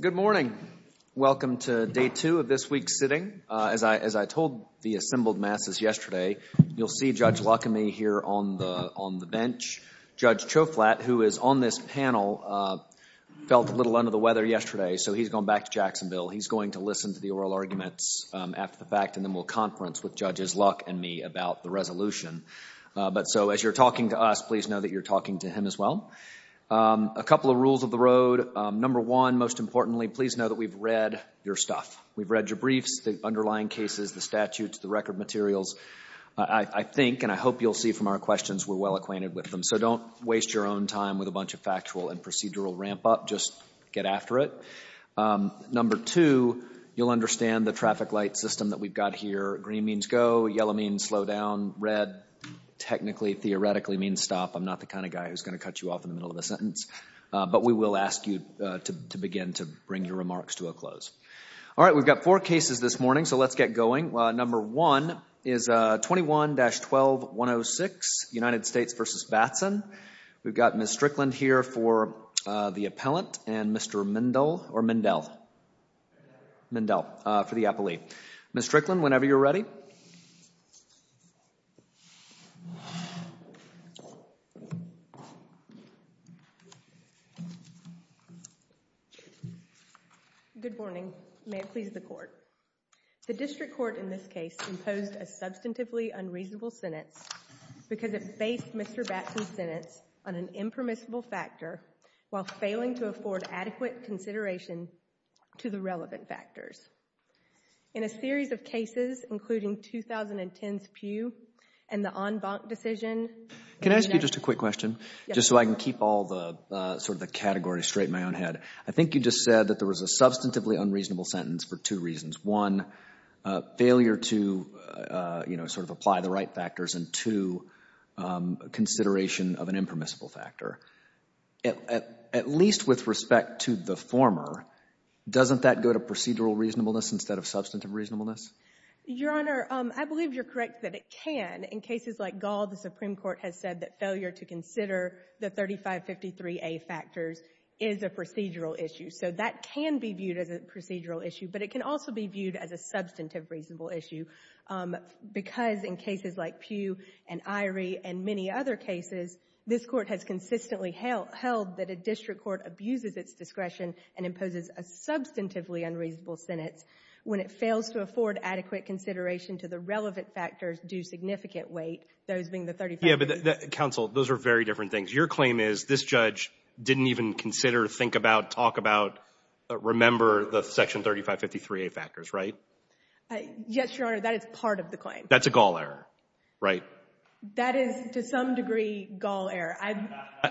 Good morning. Welcome to day two of this week's sitting. As I told the assembled masses yesterday, you'll see Judge Luck and me here on the bench. Judge Choflat, who is on this panel, felt a little under the weather yesterday, so he's gone back to Jacksonville. He's going to listen to the oral arguments after the fact, and then we'll conference with Judges Luck and me about the resolution. But so, as you're talking to us, please know that you're talking to him as well. A couple of rules of the road. Number one, most importantly, please know that we've read your stuff. We've read your briefs, the underlying cases, the statutes, the record materials. I think, and I hope you'll see from our questions, we're well acquainted with them. So don't waste your own time with a bunch of factual and procedural ramp up. Just get after it. Number two, you'll understand the traffic light system that we've got here. Green means go. Yellow means slow down. Red, technically, theoretically, means stop. I'm not the kind of guy who's going to cut you off in the middle of a sentence, but we will ask you to begin to bring your remarks to a close. All right, we've got four cases this morning, so let's get going. Number one is 21-1106, United States v. Batson. We've got Ms. Strickland here for the appellant and Mr. Mendel for the appellee. Ms. Strickland, whenever you're ready. Good morning. May it please the Court. The district court in this case imposed a substantively unreasonable sentence because it based Mr. Batson's sentence on an impermissible factor while failing to afford adequate consideration to the relevant factors. In a series of cases, including 2010's Pew and the en banc decision— Can I ask you just a quick question? Yes, sir. Just so I can keep all the categories straight in my own head. I think you just said that there was a substantively unreasonable sentence for two reasons. One, failure to apply the right factors, and two, consideration of an impermissible factor. At least with respect to the former, doesn't that go to procedural reasonableness instead of substantive reasonableness? Your Honor, I believe you're correct that it can. In cases like Gall, the Supreme Court has said that failure to consider the 3553A factors is a procedural issue. So that can be viewed as a procedural issue, but it can also be viewed as a substantive reasonable issue. Because in cases like Pew and Irie and many other cases, this Court has consistently held that a district court abuses its discretion and imposes a substantively unreasonable sentence when it fails to afford adequate consideration to the relevant factors due significant weight, those being the 3553A. Yes, but counsel, those are very different things. Your claim is this judge didn't even consider, think about, talk about, remember the section 3553A factors, right? Yes, Your Honor, that is part of the claim. That's a Gall error, right? That is, to some degree, Gall error.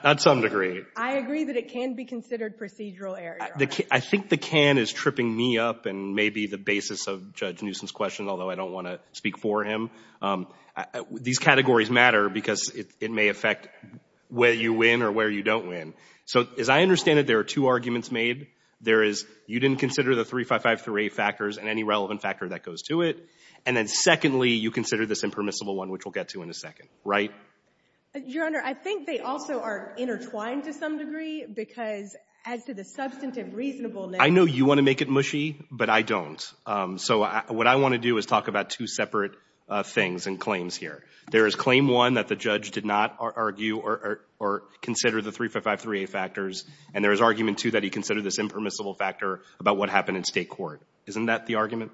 To some degree. I agree that it can be considered procedural error, Your Honor. I think the can is tripping me up and maybe the basis of Judge Newsom's question, although I don't want to speak for him. These categories matter because it may affect where you win or where you don't win. So as I understand it, there are two arguments made. There is you didn't consider the 3553A factors and any relevant factor that goes to it. And then secondly, you consider this impermissible one, which we'll get to in a second, right? Your Honor, I think they also are intertwined to some degree because as to the substantive reasonableness. I know you want to make it mushy, but I don't. So what I want to do is talk about two separate things and claims here. There is claim one that the judge did not argue or consider the 3553A factors, and there is argument two that he considered this impermissible factor about what happened in state court. Isn't that the argument?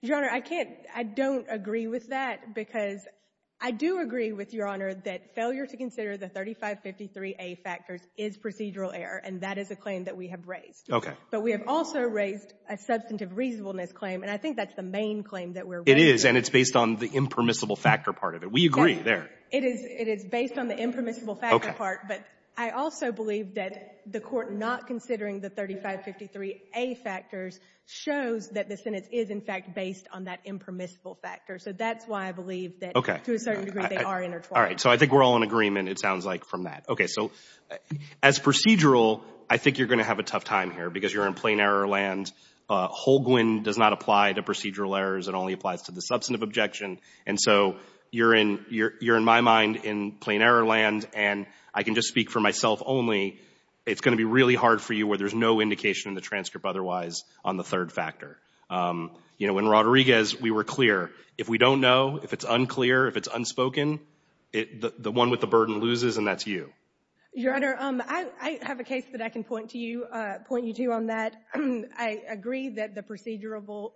Your Honor, I can't. I don't agree with that because I do agree with Your Honor that failure to consider the 3553A factors is procedural error, and that is a claim that we have raised. Okay. But we have also raised a substantive reasonableness claim, and I think that's the main claim that we're raising. It is, and it's based on the impermissible factor part of it. We agree there. It is based on the impermissible factor part, but I also believe that the Court not considering the 3553A factors shows that the sentence is, in fact, based on that impermissible factor. So that's why I believe that to a certain degree they are intertwined. All right. So I think we're all in agreement, it sounds like, from that. Okay. So as procedural, I think you're going to have a tough time here because you're in plain error land. Holguin does not apply to procedural errors. It only applies to the substantive objection, and so you're in my mind in plain error land, and I can just speak for myself only. It's going to be really hard for you where there's no indication in the transcript otherwise on the third factor. You know, in Rodriguez, we were clear. If we don't know, if it's unclear, if it's unspoken, the one with the burden loses, and that's you. Your Honor, I have a case that I can point to you, point you to on that. I agree that the procedural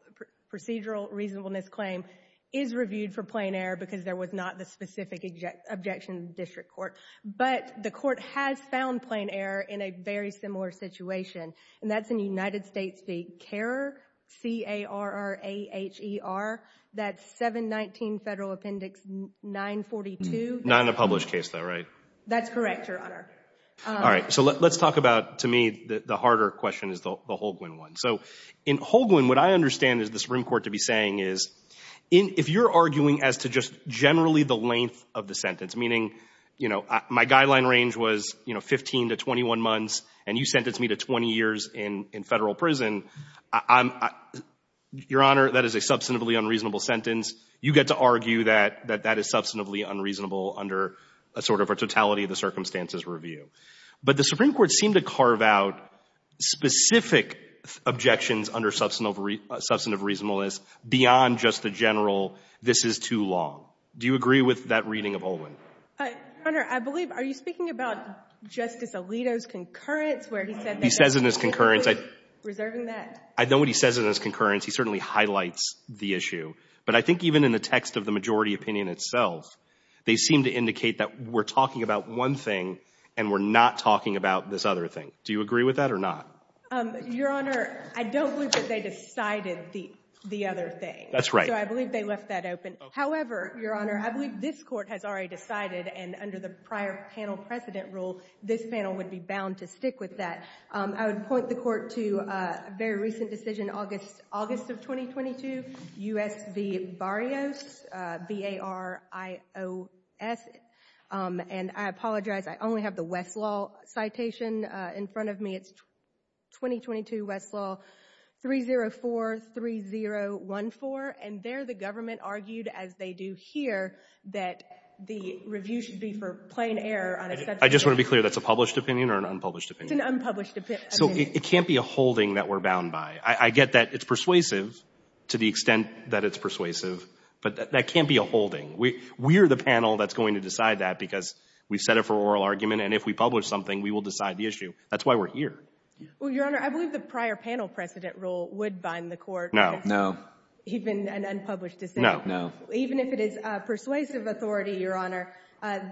reasonableness claim is reviewed for plain error because there was not the specific objection in the district court. But the court has found plain error in a very similar situation, and that's in United States v. CARER, C-A-R-E-R-A-H-E-R. That's 719 Federal Appendix 942. Not in a published case, though, right? That's correct, Your Honor. All right, so let's talk about, to me, the harder question is the Holguin one. So in Holguin, what I understand is the Supreme Court to be saying is, if you're arguing as to just generally the length of the sentence, meaning, you know, my guideline range was, you know, 15 to 21 months, and you sentenced me to 20 years in federal prison, Your Honor, that is a substantively unreasonable sentence. You get to argue that that is substantively unreasonable under a sort of a totality of the circumstances review. But the Supreme Court seemed to carve out specific objections under substantive reasonableness beyond just the general, this is too long. Do you agree with that reading of Holguin? Your Honor, I believe — are you speaking about Justice Alito's concurrence, where he said that — He says in his concurrence — Reserving that. I know what he says in his concurrence. He certainly highlights the issue. But I think even in the text of the majority opinion itself, they seem to indicate that we're talking about one thing, and we're not talking about this other thing. Do you agree with that or not? Your Honor, I don't believe that they decided the other thing. That's right. So I believe they left that open. However, Your Honor, I believe this Court has already decided, and under the prior panel precedent rule, this panel would be bound to stick with that. I would point the Court to a very recent decision, August of 2022, U.S. v. Barrios, B-A-R-I-O-S. And I apologize, I only have the Westlaw citation in front of me. It's 2022 Westlaw 3043014. And there the government argued, as they do here, that the review should be for plain error on a subject — I just want to be clear, that's a published opinion or an unpublished opinion? It's an unpublished opinion. So it can't be a holding that we're bound by. I get that it's persuasive, to the extent that it's persuasive, but that can't be a holding. We're the panel that's going to decide that, because we've set it for an oral argument, and if we publish something, we will decide the issue. That's why we're here. Well, Your Honor, I believe the prior panel precedent rule would bind the Court — No. No. Even an unpublished decision. No. No. Even if it is persuasive authority, Your Honor,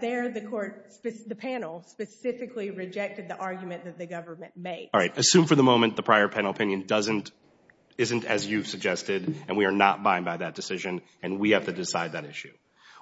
there the panel specifically rejected the argument that the government made. All right. Assume for the moment the prior panel opinion isn't as you've suggested, and we are not bound by that decision, and we have to decide that issue.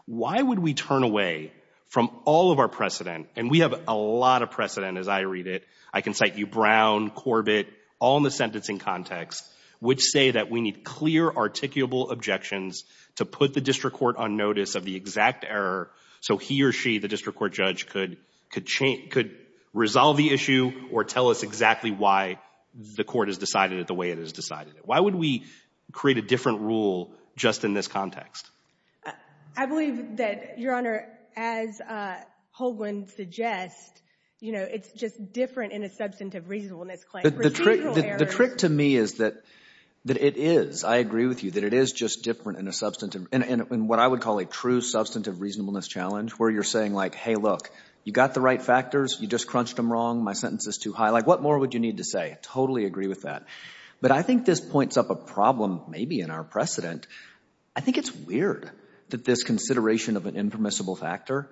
Why would we turn away from all of our precedent — and we have a lot of precedent, as I read it. I can cite you, Brown, Corbett, all in the sentencing context, which say that we need clear, articulable objections to put the district court on notice of the exact error so he or she, the district court judge, could change — could resolve the issue or tell us exactly why the court has decided it the way it has decided it. Why would we create a different rule just in this context? I believe that, Your Honor, as Holguin suggests, you know, it's just different in a substantive reasonableness claim. The trick to me is that it is. I agree with you, that it is just different in a substantive — in what I would call a true substantive reasonableness challenge, where you're saying, like, hey, look, you got the right factors. You just crunched them wrong. My sentence is too high. Like, what more would you need to say? Totally agree with that. But I think this points up a problem, maybe, in our precedent. I think it's weird that this consideration of an impermissible factor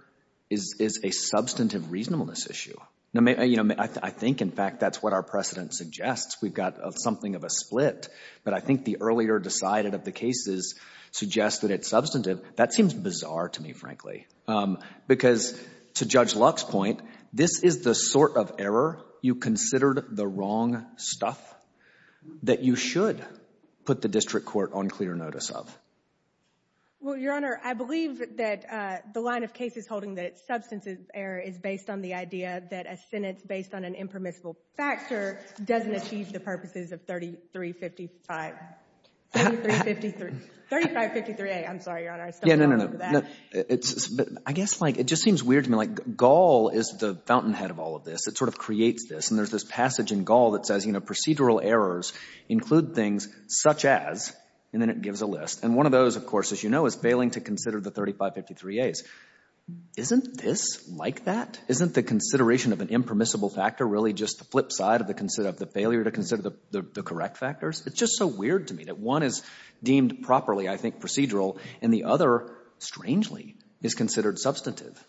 is a substantive reasonableness issue. You know, I think, in fact, that's what our precedent suggests. We've got something of a split. But I think the earlier decided of the cases suggests that it's substantive. That seems bizarre to me, frankly, because to Judge Luck's point, this is the sort of error you considered the wrong stuff that you should put the district court on clear notice of. Well, Your Honor, I believe that the line of cases holding that it's substantive error is based on the idea that a sentence based on an impermissible factor doesn't achieve the purposes of 3355 — 3353 — 3553A. I'm sorry, Your Honor. I stumbled over that. Yeah, no, no, no. It's — I guess, like, it just seems weird to me. Like, Gall is the sort of creates this, and there's this passage in Gall that says, you know, procedural errors include things such as — and then it gives a list. And one of those, of course, as you know, is failing to consider the 3553As. Isn't this like that? Isn't the consideration of an impermissible factor really just the flip side of the — of the failure to consider the correct factors? It's just so weird to me that one is deemed properly, I think, procedural, and the other, strangely, is considered substantive.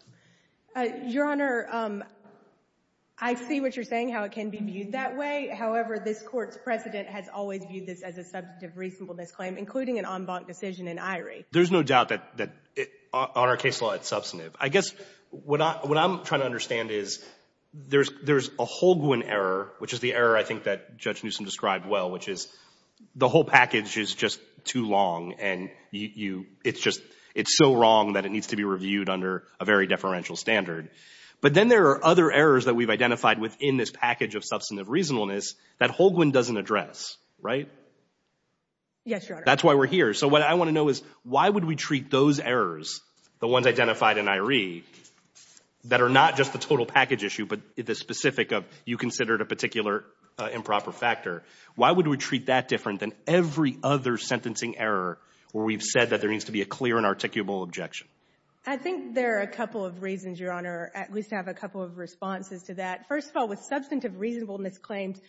Your Honor, I see what you're saying, how it can be viewed that way. However, this Court's precedent has always viewed this as a substantive reasonableness claim, including an en banc decision in Irie. There's no doubt that on our case law, it's substantive. I guess what I'm trying to understand is there's a Holguin error, which is the error, I think, that Judge Newsom described well, which is the whole package is just too long, and you — it's just — it's so wrong that it needs to be reviewed under a very deferential standard. But then there are other errors that we've identified within this package of substantive reasonableness that Holguin doesn't address, right? Yes, Your Honor. That's why we're here. So what I want to know is, why would we treat those errors, the ones identified in Irie, that are not just the total package issue, but the specific of you considered a particular improper factor, why would we treat that different than every other sentencing error where we've said that there needs to be a clear and articulable objection? I think there are a couple of reasons, Your Honor, at least I have a couple of responses to that. First of all, with substantive reasonableness claims,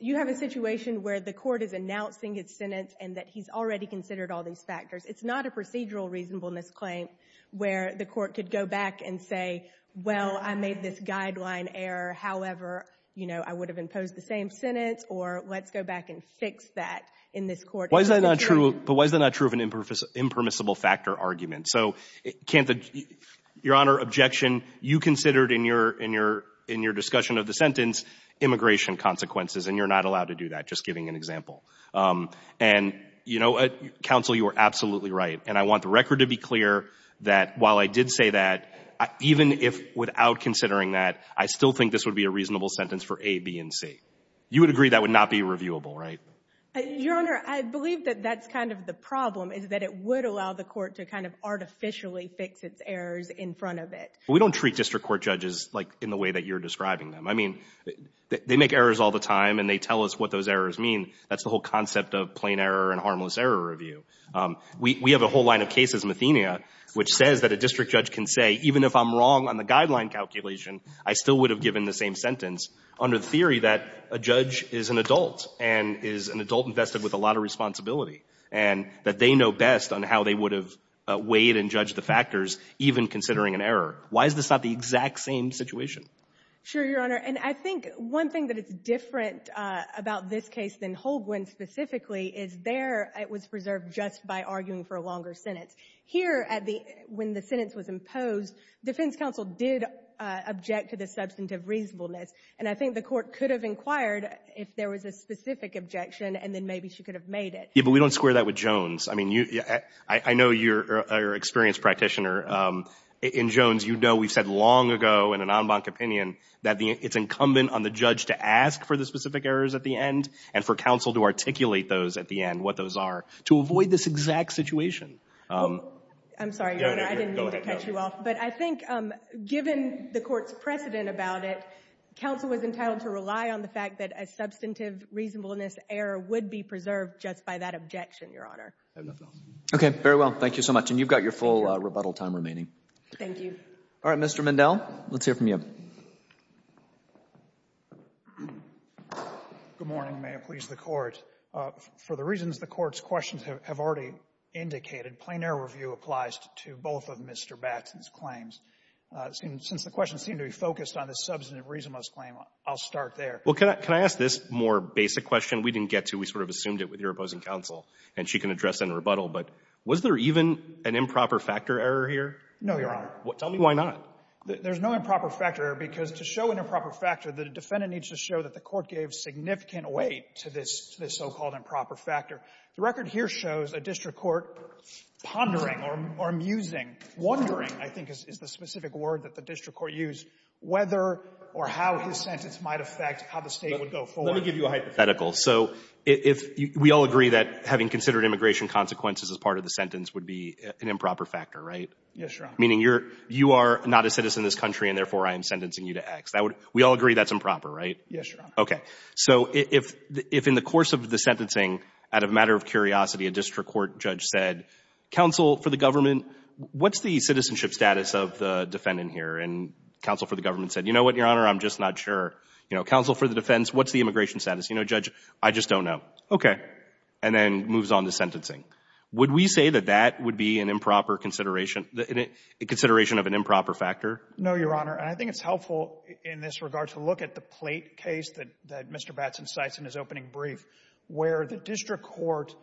you have a situation where the Court is announcing its sentence and that he's already considered all these factors. It's not a procedural reasonableness claim where the Court could go back and say, well, I made this guideline error, however, you know, I would have imposed the same sentence, or let's go back and fix that in this Court. But why is that not true of an impermissible factor argument? So, your Honor, objection, you considered in your discussion of the sentence immigration consequences, and you're not allowed to do that, just giving an example. And, you know, counsel, you are absolutely right, and I want the record to be clear that while I did say that, even if without considering that, I still think this would be a reasonable sentence for A, B, and C. You would agree that would not be reviewable, right? Your Honor, I believe that that's kind of the problem, is that it would allow the Court to kind of artificially fix its errors in front of it. We don't treat district court judges like in the way that you're describing them. I mean, they make errors all the time, and they tell us what those errors mean. That's the whole concept of plain error and harmless error review. We have a whole line of cases, Mathenia, which says that a district judge can say, even if I'm wrong on the guideline calculation, I still would have given the same sentence, under the theory that a judge is an adult, and is an adult invested with a lot of responsibility, and that they know best on how they would have weighed and judged the factors, even considering an error. Why is this not the exact same situation? Sure, Your Honor. And I think one thing that is different about this case than Holguin specifically is there it was preserved just by arguing for a longer sentence. Here, when the sentence was imposed, defense counsel did object to the substantive reasonableness, and I think the court could have inquired if there was a specific objection, and then maybe she could have made it. Yeah, but we don't square that with Jones. I mean, I know you're an experienced practitioner. In Jones, you know we've said long ago in an en banc opinion that it's incumbent on the judge to ask for the specific errors at the end, and for counsel to articulate those at the end, what those are, to avoid this exact situation. I'm sorry, Your Honor. I didn't mean to catch you off. But I think, given the court's opinion about it, counsel was entitled to rely on the fact that a substantive reasonableness error would be preserved just by that objection, Your Honor. I have nothing else. Okay. Very well. Thank you so much. And you've got your full rebuttal time remaining. Thank you. All right. Mr. Mindell, let's hear from you. Good morning. May it please the Court. For the reasons the Court's questions have already indicated, plain error review applies to both of Mr. Batson's claims. Since the questions seem to be focused on the substantive reasonableness claim, I'll start there. Well, can I ask this more basic question? We didn't get to. We sort of assumed it with your opposing counsel. And she can address in rebuttal. But was there even an improper factor error here? No, Your Honor. Tell me why not. There's no improper factor error, because to show an improper factor, the defendant needs to show that the court gave significant weight to this so-called improper factor. The record here shows a district court pondering or musing, wondering, I think, is the specific word that the district court used, whether or how his sentence might affect how the state would go forward. Let me give you a hypothetical. So if we all agree that having considered immigration consequences as part of the sentence would be an improper factor, right? Yes, Your Honor. Meaning you are not a citizen of this country, and therefore I am sentencing you to X. We all agree that's improper, right? Yes, Your Honor. Okay. So if in the course of the sentencing, out of a matter of curiosity, a district court judge said, counsel for the government, what's the citizenship status of the defendant here? And counsel for the government said, you know what, Your Honor, I'm just not sure. You know, counsel for the defense, what's the immigration status? You know, judge, I just don't know. Okay. And then moves on to sentencing. Would we say that that would be an improper consideration of an improper factor? No, Your Honor. And I think it's helpful in this regard to look at the plate case that Mr. Batson cites in his opening brief, where the district court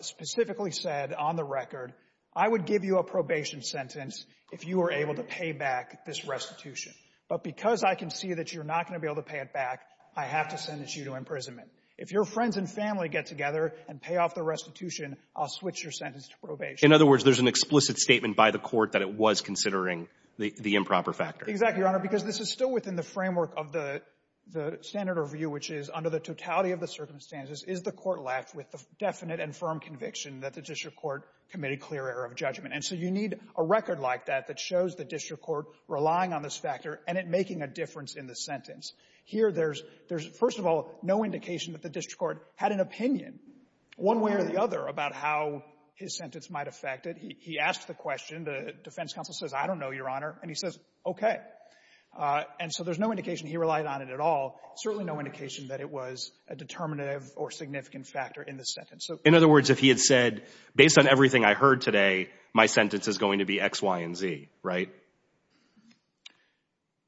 specifically said on the record, I would give you a probation sentence if you were able to pay back this restitution. But because I can see that you're not going to be able to pay it back, I have to sentence you to imprisonment. If your friends and family get together and pay off the restitution, I'll switch your sentence to probation. In other words, there's an explicit statement by the court that it was considering the improper factor. Exactly, Your Honor, because this is still within the framework of the standard of view, which is, under the totality of the circumstances, is the court left with the definite and firm conviction that the district court committed clear error of judgment? And so you need a record like that that shows the district court relying on this factor and it making a difference in the sentence. Here, there's no indication that the district court had an opinion one way or the other about how his sentence might affect it. He asked the question. The defense counsel says, I don't know, Your Honor. And he says, okay. And so there's no indication he relied on it at all. Certainly no indication that it was a determinative or significant factor in the sentence. In other words, if he had said, based on everything I heard today, my sentence is going to be X, Y, and Z, right?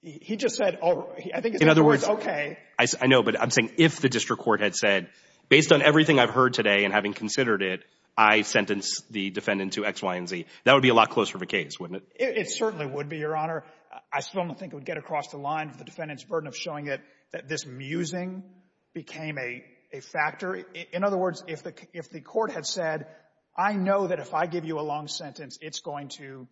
He just said, I think it's in other words, okay. I know, but I'm saying if the district court had said, based on everything I've heard today and having considered it, I sentence the defendant to X, Y, and Z, that would be a lot closer of a case, wouldn't it? It certainly would be, Your Honor. I still don't think it would get across the line of the defendant's burden of showing that this musing became a factor. In other words, if the court had said, I know that if I give you a long sentence, it's going to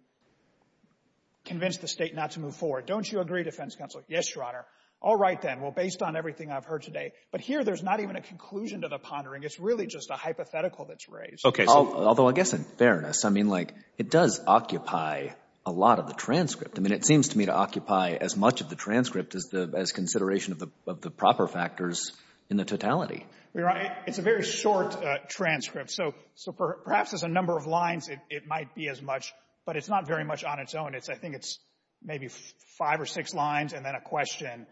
convince the State not to move forward. Don't you agree, defense counsel? Yes, Your Honor. All right, then. Well, based on everything I've heard today. But here, there's not even a conclusion to the pondering. It's really just a hypothetical that's raised. Okay. Although, I guess in fairness, I mean, like, it does occupy a lot of the transcript. I mean, it seems to me to occupy as much of the transcript as the, as consideration of the proper factors in the totality. Well, Your Honor, it's a very short transcript. So perhaps as a number of lines, it might be as much, but it's not very much on its own. It's, I think it's maybe five or six lines and then a question.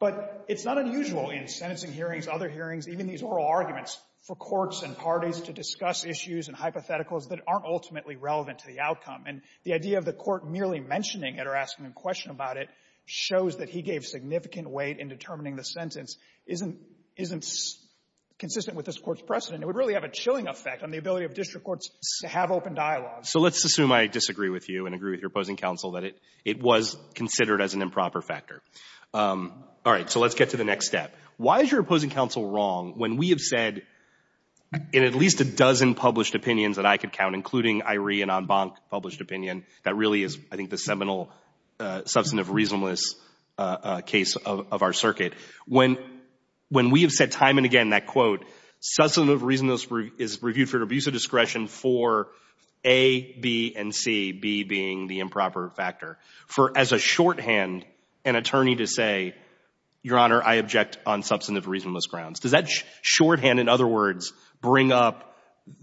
But it's not unusual in sentencing hearings, other hearings, even these oral arguments, for courts and parties to discuss issues and hypotheticals that aren't ultimately relevant to the outcome. And the idea of the court merely mentioning it or asking a question about it shows that he gave significant weight in determining the sentence isn't, isn't consistent with this court's precedent. It would really have a chilling effect on the ability of district courts to have open dialogue. So let's assume I disagree with you and agree with your opposing counsel that it, it was considered as an improper factor. All right, so let's get to the next step. Why is your opposing counsel wrong when we have said in at least a dozen published opinions that I could count, including Iree and Onbonk published opinion, that really is, I think, the seminal substantive reasonableness case of, of our circuit. When, when we have said time and again that, quote, substantive reasonableness is reviewed for an abuse of discretion for A, B, and C, B being the improper factor. For as a shorthand, an attorney to say, your honor, I object on substantive reasonableness grounds. Does that shorthand, in other words, bring up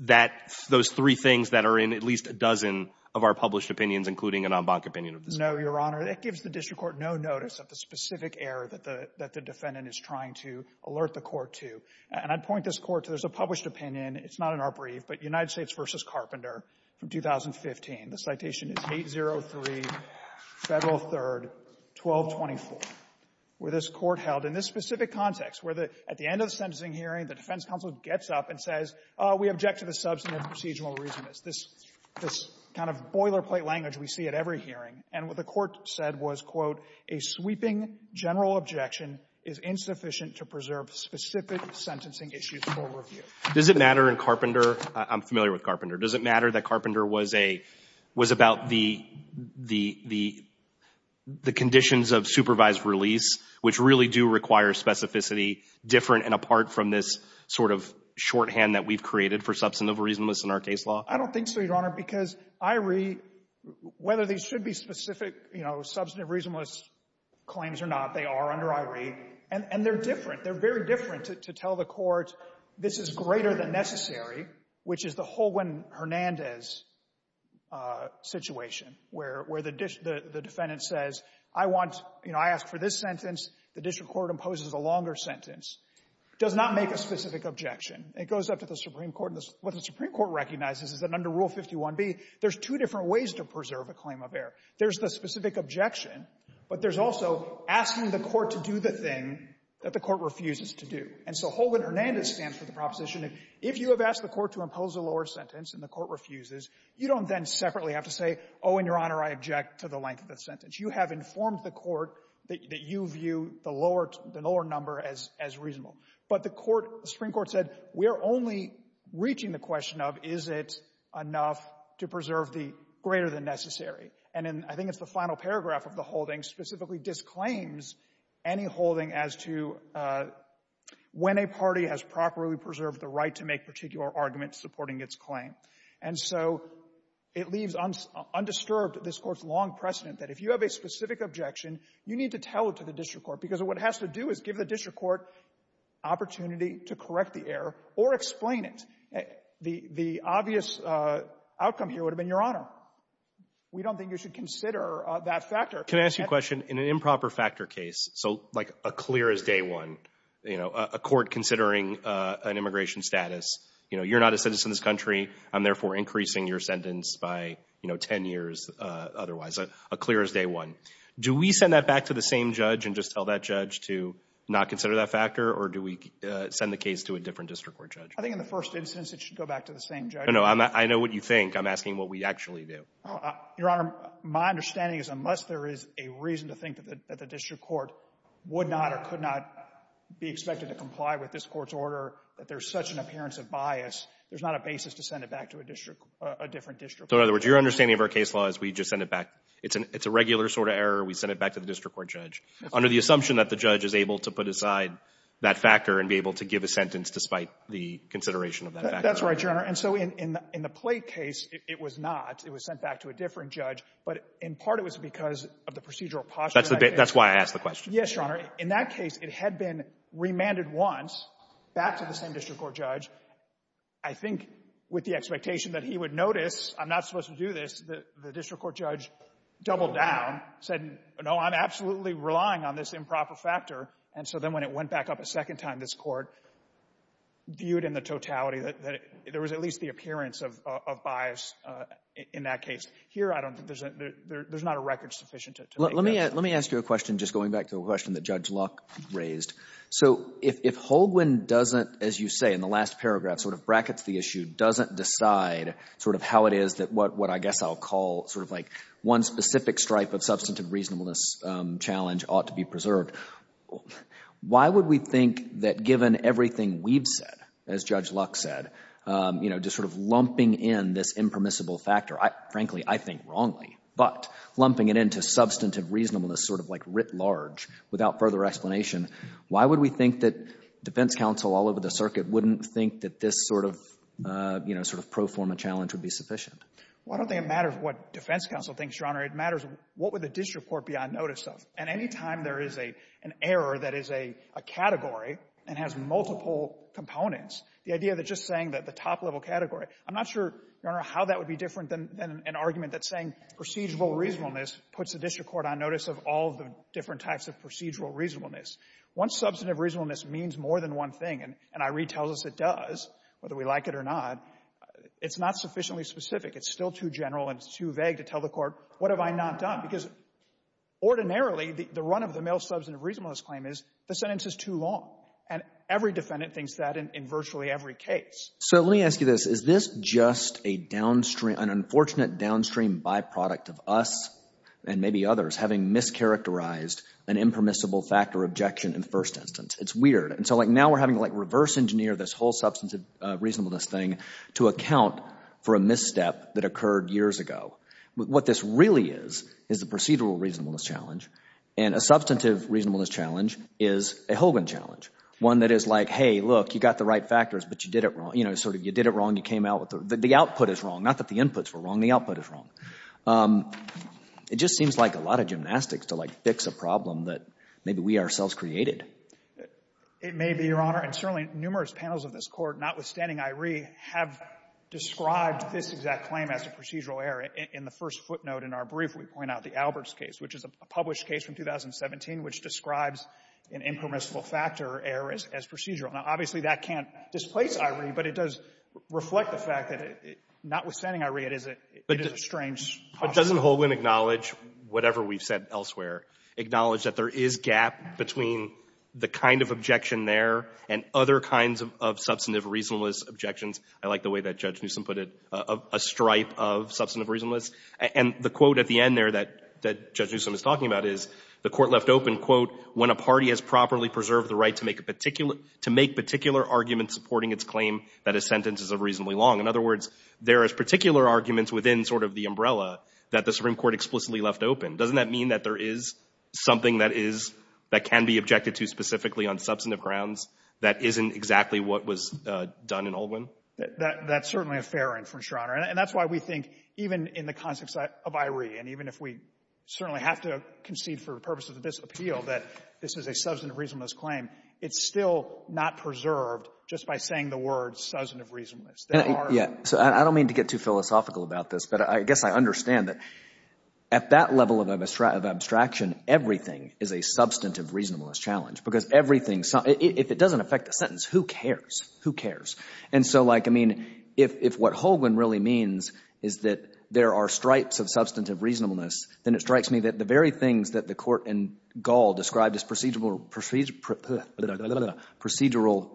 that, those three things that are in at least a dozen of our published opinions, including an Onbonk opinion of this Court? No, your honor. That gives the district court no notice of the specific error that the, that the defendant is trying to alert the court to. And I'd point this court to, there's a published opinion. It's not in our brief, but United States v. Carpenter from 2015. The citation is 803 Federal 3rd 1224, where this court held in this specific context, where the, at the end of the sentencing hearing, the defense counsel gets up and says, oh, we object to the substantive procedural reasonableness. This, this kind of boilerplate language we see at every hearing. And what the court said was, quote, a sweeping general objection is insufficient to preserve specific sentencing issues for review. Does it matter in Carpenter, I'm familiar with Carpenter. Does it matter that Carpenter was a, was about the, the, the conditions of supervised release, which really do require specificity different and apart from this sort of shorthand that we've created for substantive reasonableness in our case law? I don't think so, your honor, because I read, whether they should be specific, you know, substantive reasonableness claims or not, they are under I read and, and they're different. They're very different to, to tell the court this is greater than necessary, which is the the district court imposes a longer sentence, does not make a specific objection. It goes up to the Supreme Court. And what the Supreme Court recognizes is that under Rule 51b, there's two different ways to preserve a claim of error. There's the specific objection, but there's also asking the court to do the thing that the court refuses to do. And so Hogan-Hernandez stands for the proposition that if you have asked the court to impose a lower sentence and the court refuses, you don't then separately have to say, oh, in your honor, I object to the length of the sentence. You have informed the court that you view the lower, the lower number as, as reasonable. But the court, the Supreme Court said, we're only reaching the question of is it enough to preserve the greater than necessary. And I think it's the final paragraph of the holding specifically disclaims any holding as to when a party has properly preserved the right to make particular arguments supporting its claim. And so it leaves undisturbed this court's long precedent that if you have a specific objection, you need to tell it to the district court. Because what it has to do is give the district court opportunity to correct the error or explain it. The, the obvious outcome here would have been your honor. We don't think you should consider that factor. Can I ask you a question? In an improper factor case, so like a clear as day one, you know, a court considering an immigration status, you know, you're not a citizen of this country. I'm therefore increasing your sentence by, you know, ten years otherwise. A clear as day one. Do we send that back to the same judge and just tell that judge to not consider that factor? Or do we send the case to a different district court judge? I think in the first instance it should go back to the same judge. No, no, I'm, I know what you think. I'm asking what we actually do. Your honor, my understanding is unless there is a reason to think that the, that the district court would not or could not be expected to comply with this court's order, that there's such an appearance of bias, there's not a basis to send it back to a district, a different district court. So in other words, your understanding of our case law is we just send it back. It's an, it's a regular sort of error. We send it back to the district court judge. Under the assumption that the judge is able to put aside that factor and be able to give a sentence despite the consideration of that factor. That's right, your honor. And so in, in, in the Plait case, it was not. It was sent back to a different judge. But in part it was because of the procedural posture. That's the, that's why I asked the question. Yes, your honor. In that case, it had been remanded once back to the same district court judge. I think with the expectation that he would notice, I'm not supposed to do this. The, the district court judge doubled down, said no, I'm absolutely relying on this improper factor. And so then when it went back up a second time, this court viewed in the totality that, that it, there was at least the appearance of, of, of bias in that case. Here I don't think there's a, there, there's not a record sufficient to, to make that. Let me, let me ask you a question, just going back to a question that Judge Luck raised. So if, if Holguin doesn't, as you say in the last paragraph, sort of brackets the issue, doesn't decide sort of how it is that what, what I guess I'll call sort of like one specific stripe of substantive reasonableness challenge ought to be preserved. Why would we think that given everything we've said, as Judge Luck said, you know, just sort of lumping in this impermissible factor, I, frankly, I think wrongly. But lumping it into substantive reasonableness, sort of like writ large, without further explanation, why would we think that defense counsel all over the circuit wouldn't think that this sort of, you know, sort of pro forma challenge would be sufficient? Well, I don't think it matters what defense counsel thinks, Your Honor. It matters what would the district court be on notice of. And any time there is a, an error that is a, a category and has multiple components, the idea that just saying that the top level category, I'm not sure, Your Honor, how that would be different than, than an argument that saying procedural reasonableness puts the district court on notice of all the different types of procedural reasonableness. Once substantive reasonableness means more than one thing, and, and I read tells us it does, whether we like it or not, it's not sufficiently specific. It's still too general and it's too vague to tell the court, what have I not done? Because ordinarily the, the run of the male substantive reasonableness claim is the sentence is too long. And every defendant thinks that in, in virtually every case. So let me ask you this. Is this just a downstream, an unfortunate downstream byproduct of us and maybe others having mischaracterized an impermissible fact or objection in the first instance? It's weird. And so like now we're having to like reverse engineer this whole substantive reasonableness thing to account for a misstep that occurred years ago. What this really is, is the procedural reasonableness challenge. And a substantive reasonableness challenge is a Hogan challenge. One that is like, hey, look, you got the right factors, but you did it wrong. You know, sort of you did it wrong, you came out with the, the output is wrong. Not that the inputs were wrong, the output is wrong. It just seems like a lot of gymnastics to like fix a problem that maybe we ourselves created. It may be, Your Honor. And certainly numerous panels of this Court, notwithstanding Iree, have described this exact claim as a procedural error. In the first footnote in our brief, we point out the Alberts case, which is a published case from 2017, which describes an impermissible factor error as procedural. Now, obviously, that can't displace Iree, but it does reflect the fact that, notwithstanding Iree, it is a, it is a strange possibility. But doesn't Hogan acknowledge whatever we've said elsewhere, acknowledge that there is gap between the kind of objection there and other kinds of substantive reasonableness objections? I like the way that Judge Newsom put it, a stripe of substantive reasonableness. And the quote at the end there that, that Judge Newsom is talking about is, the Court left open, quote, when a party has properly preserved the right to make a particular, to make particular arguments supporting its claim that a sentence is of reasonably long. In other words, there is particular arguments within sort of the umbrella that the Supreme Court explicitly left open. Doesn't that mean that there is something that is, that can be objected to specifically on substantive grounds that isn't exactly what was done in Holwin? That, that's certainly a fair inference, Your Honor. And that's why we think, even in the context of Iree, and even if we certainly have to concede for the purposes of this appeal that this is a substantive reasonableness claim, it's still not preserved just by saying the word substantive reasonableness. There are. Yeah. So I don't mean to get too philosophical about this, but I guess I understand that at that level of abstraction, everything is a substantive reasonableness challenge. Because everything, if it doesn't affect the sentence, who cares? Who cares? And so, like, I mean, if what Holwin really means is that there are stripes of substantive reasonableness, then it strikes me that the very things that the court in Gall described as procedural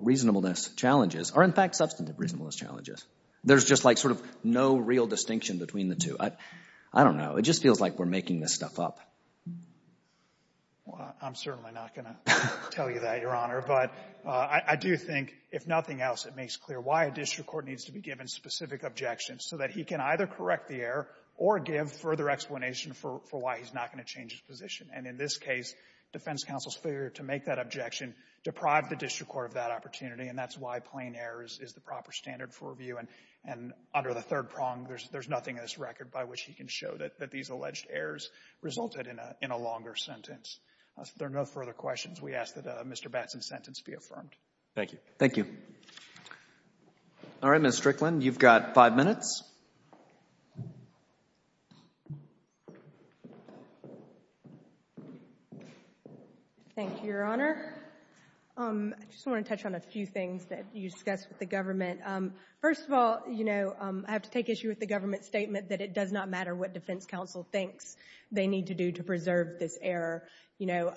reasonableness challenges are, in fact, substantive reasonableness challenges. There's just, like, sort of no real distinction between the two. I don't know. It just feels like we're making this stuff up. Well, I'm certainly not going to tell you that, Your Honor. But I do think, if nothing else, it makes clear why a district court needs to be given specific objections so that he can either correct the error or give further explanation for why he's not going to change his position. And in this case, defense counsel's failure to make that objection deprived the district court of that opportunity. And that's why plain errors is the proper standard for review. And under the third prong, there's nothing in this record by which he can show that these alleged errors resulted in a longer sentence. If there are no further questions, we ask that Mr. Batson sentence be affirmed. Thank you. Thank you. All right. Ms. Strickland, you've got five minutes. Thank you, Your Honor. I just want to touch on a few things that you discussed with the government. First of all, you know, I have to take issue with the government statement that it does not matter what defense counsel thinks they need to do to preserve this error. You know,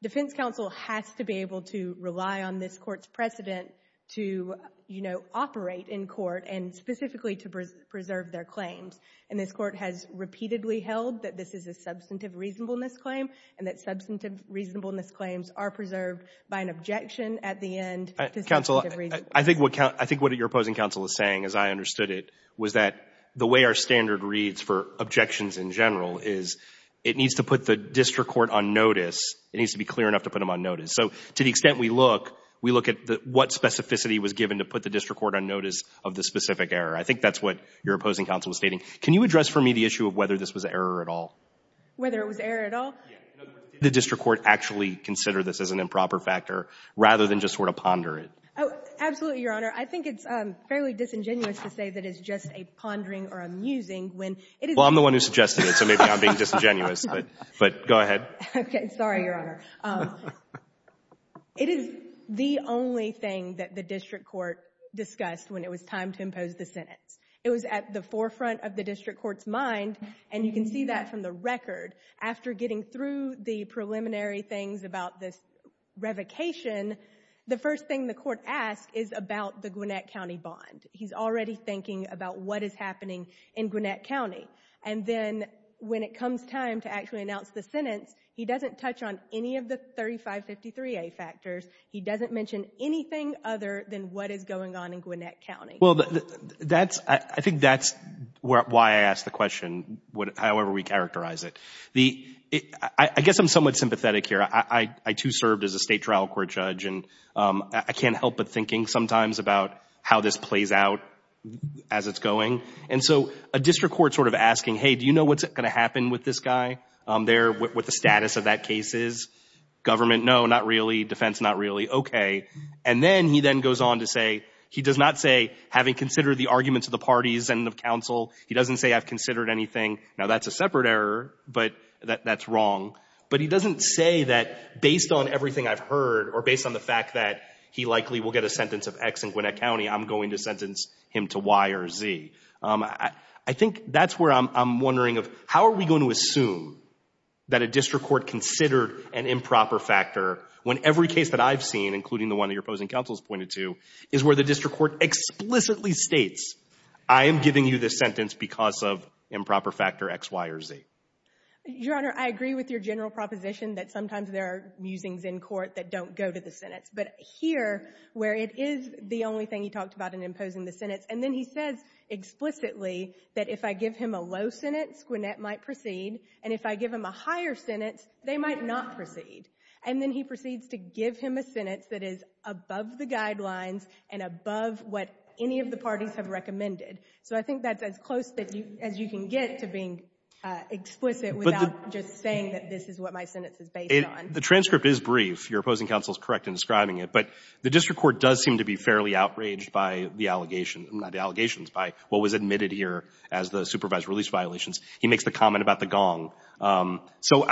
defense counsel has to be able to rely on this court's precedent to, you know, operate in court and specifically to preserve their claims. And this court has repeatedly held that this is a substantive reasonableness claim and that substantive reasonableness claims are preserved by an objection at the end to substantive reasonableness. Counsel, I think what your opposing counsel is saying, as I understood it, was that the way our standard reads for objections in general is it needs to put the district court on notice. It needs to be clear enough to put them on notice. So to the extent we look, we look at what specificity was given to put the district court on notice of the specific error. I think that's what your opposing counsel is stating. Can you address for me the issue of whether this was an error at all? Whether it was an error at all? Yeah. In other words, did the district court actually consider this as an improper factor rather than just sort of ponder it? Oh, absolutely, Your Honor. I think it's fairly disingenuous to say that it's just a pondering or a musing when it is the only thing that the district court discussed when it was time to impose the sentence. Well, I'm the one who suggested it, so maybe I'm being disingenuous, but go ahead. Okay. Sorry, Your Honor. It is the only thing that the district court discussed when it was time to impose the sentence. It was at the forefront of the district court's mind, and you can see that from the record. After getting through the preliminary things about this revocation, the first thing the court asked is about the Gwinnett County bond. He's already thinking about what is happening in Gwinnett County. And then when it comes time to actually announce the sentence, he doesn't touch on any of the 3553A factors. He doesn't mention anything other than what is going on in Gwinnett County. Well, that's — I think that's why I asked the question, however we characterize it. I guess I'm somewhat sympathetic here. I, too, served as a state trial court judge, and I can't help but thinking sometimes about how this plays out as it's going. And so a district court sort of asking, hey, do you know what's going to happen with this guy there, what the status of that case is? Government, no, not really. Defense, not really. Okay. And then he then goes on to say — he does not say, having considered the arguments of the parties and of counsel, he doesn't say, I've considered anything. Now, that's a separate error, but that's wrong. But he doesn't say that, based on everything I've heard or based on the fact that he likely will get a sentence of X in Gwinnett County, I'm going to sentence him to Y or Z. I think that's where I'm wondering of, how are we going to assume that a district court considered an improper factor when every case that I've seen, including the one that your opposing counsel has pointed to, is where the district court explicitly states, I am giving you this sentence because of improper factor X, Y, or Z? Your Honor, I agree with your general proposition that sometimes there are musings in court that don't go to the sentence. But here, where it is the only thing he talked about in imposing the sentence, and then he says explicitly that if I give him a low sentence, Gwinnett might proceed, and if I give him a higher sentence, they might not proceed. And then he proceeds to give him a sentence that is above the guidelines and above what any of the parties have recommended. So I think that's as close as you can get to being explicit without just saying that this is what my sentence is based on. The transcript is brief. Your opposing counsel is correct in describing it. But the district court does seem to be fairly outraged by the allegations, by what was admitted here as the supervised release violations. He makes the comment about the gong. So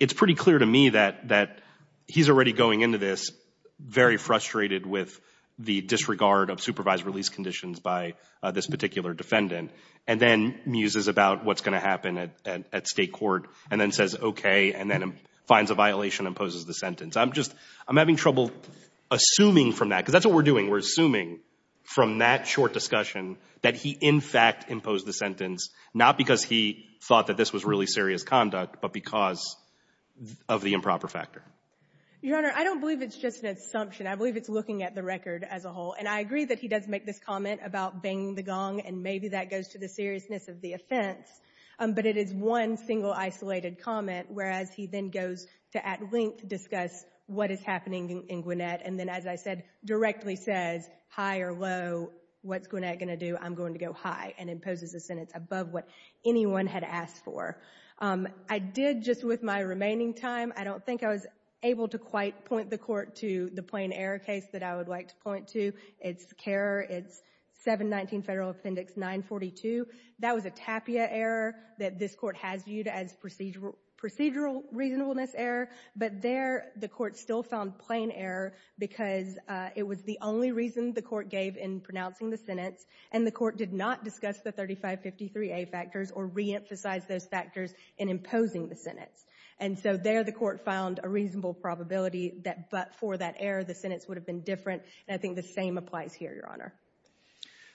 it's pretty clear to me that he's already going into this very frustrated with the disregard of supervised release conditions by this particular defendant, and then muses about what's going to happen at State court, and then says, okay, and then finds a violation and imposes the sentence. I'm just — I'm having trouble assuming from that, because that's what we're doing. We're assuming from that short discussion that he, in fact, imposed the sentence, not because he thought that this was really serious conduct, but because of the improper factor. Your Honor, I don't believe it's just an assumption. I believe it's looking at the record as a whole. And I agree that he does make this comment about banging the gong, and maybe that goes to the seriousness of the offense. But it is one single, isolated comment, whereas he then goes to, at length, discuss what is happening in Gwinnett, and then, as I said, directly says, high or low, what's Gwinnett going to do? I'm going to go high, and imposes the sentence above what anyone had asked for. I did, just with my remaining time, I don't think I was able to quite point the Court to the plain error case that I would like to point to. It's CARER. It's 719 Federal Appendix 942. That was a TAPIA error that this Court has viewed as procedural reasonableness error. But there, the Court still found plain error because it was the only reason the Court gave in pronouncing the sentence, and the Court did not discuss the 3553A factors or reemphasize those factors in imposing the sentence. And so there, the Court found a reasonable probability that but for that error, the sentence would have been different, and I think the same applies here, Your Honor.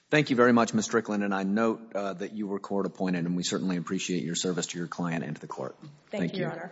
Thank you very much, Ms. Strickland, and I note that you were court appointed, and we certainly appreciate your service to your client and to the Court. Thank you, Your Honor.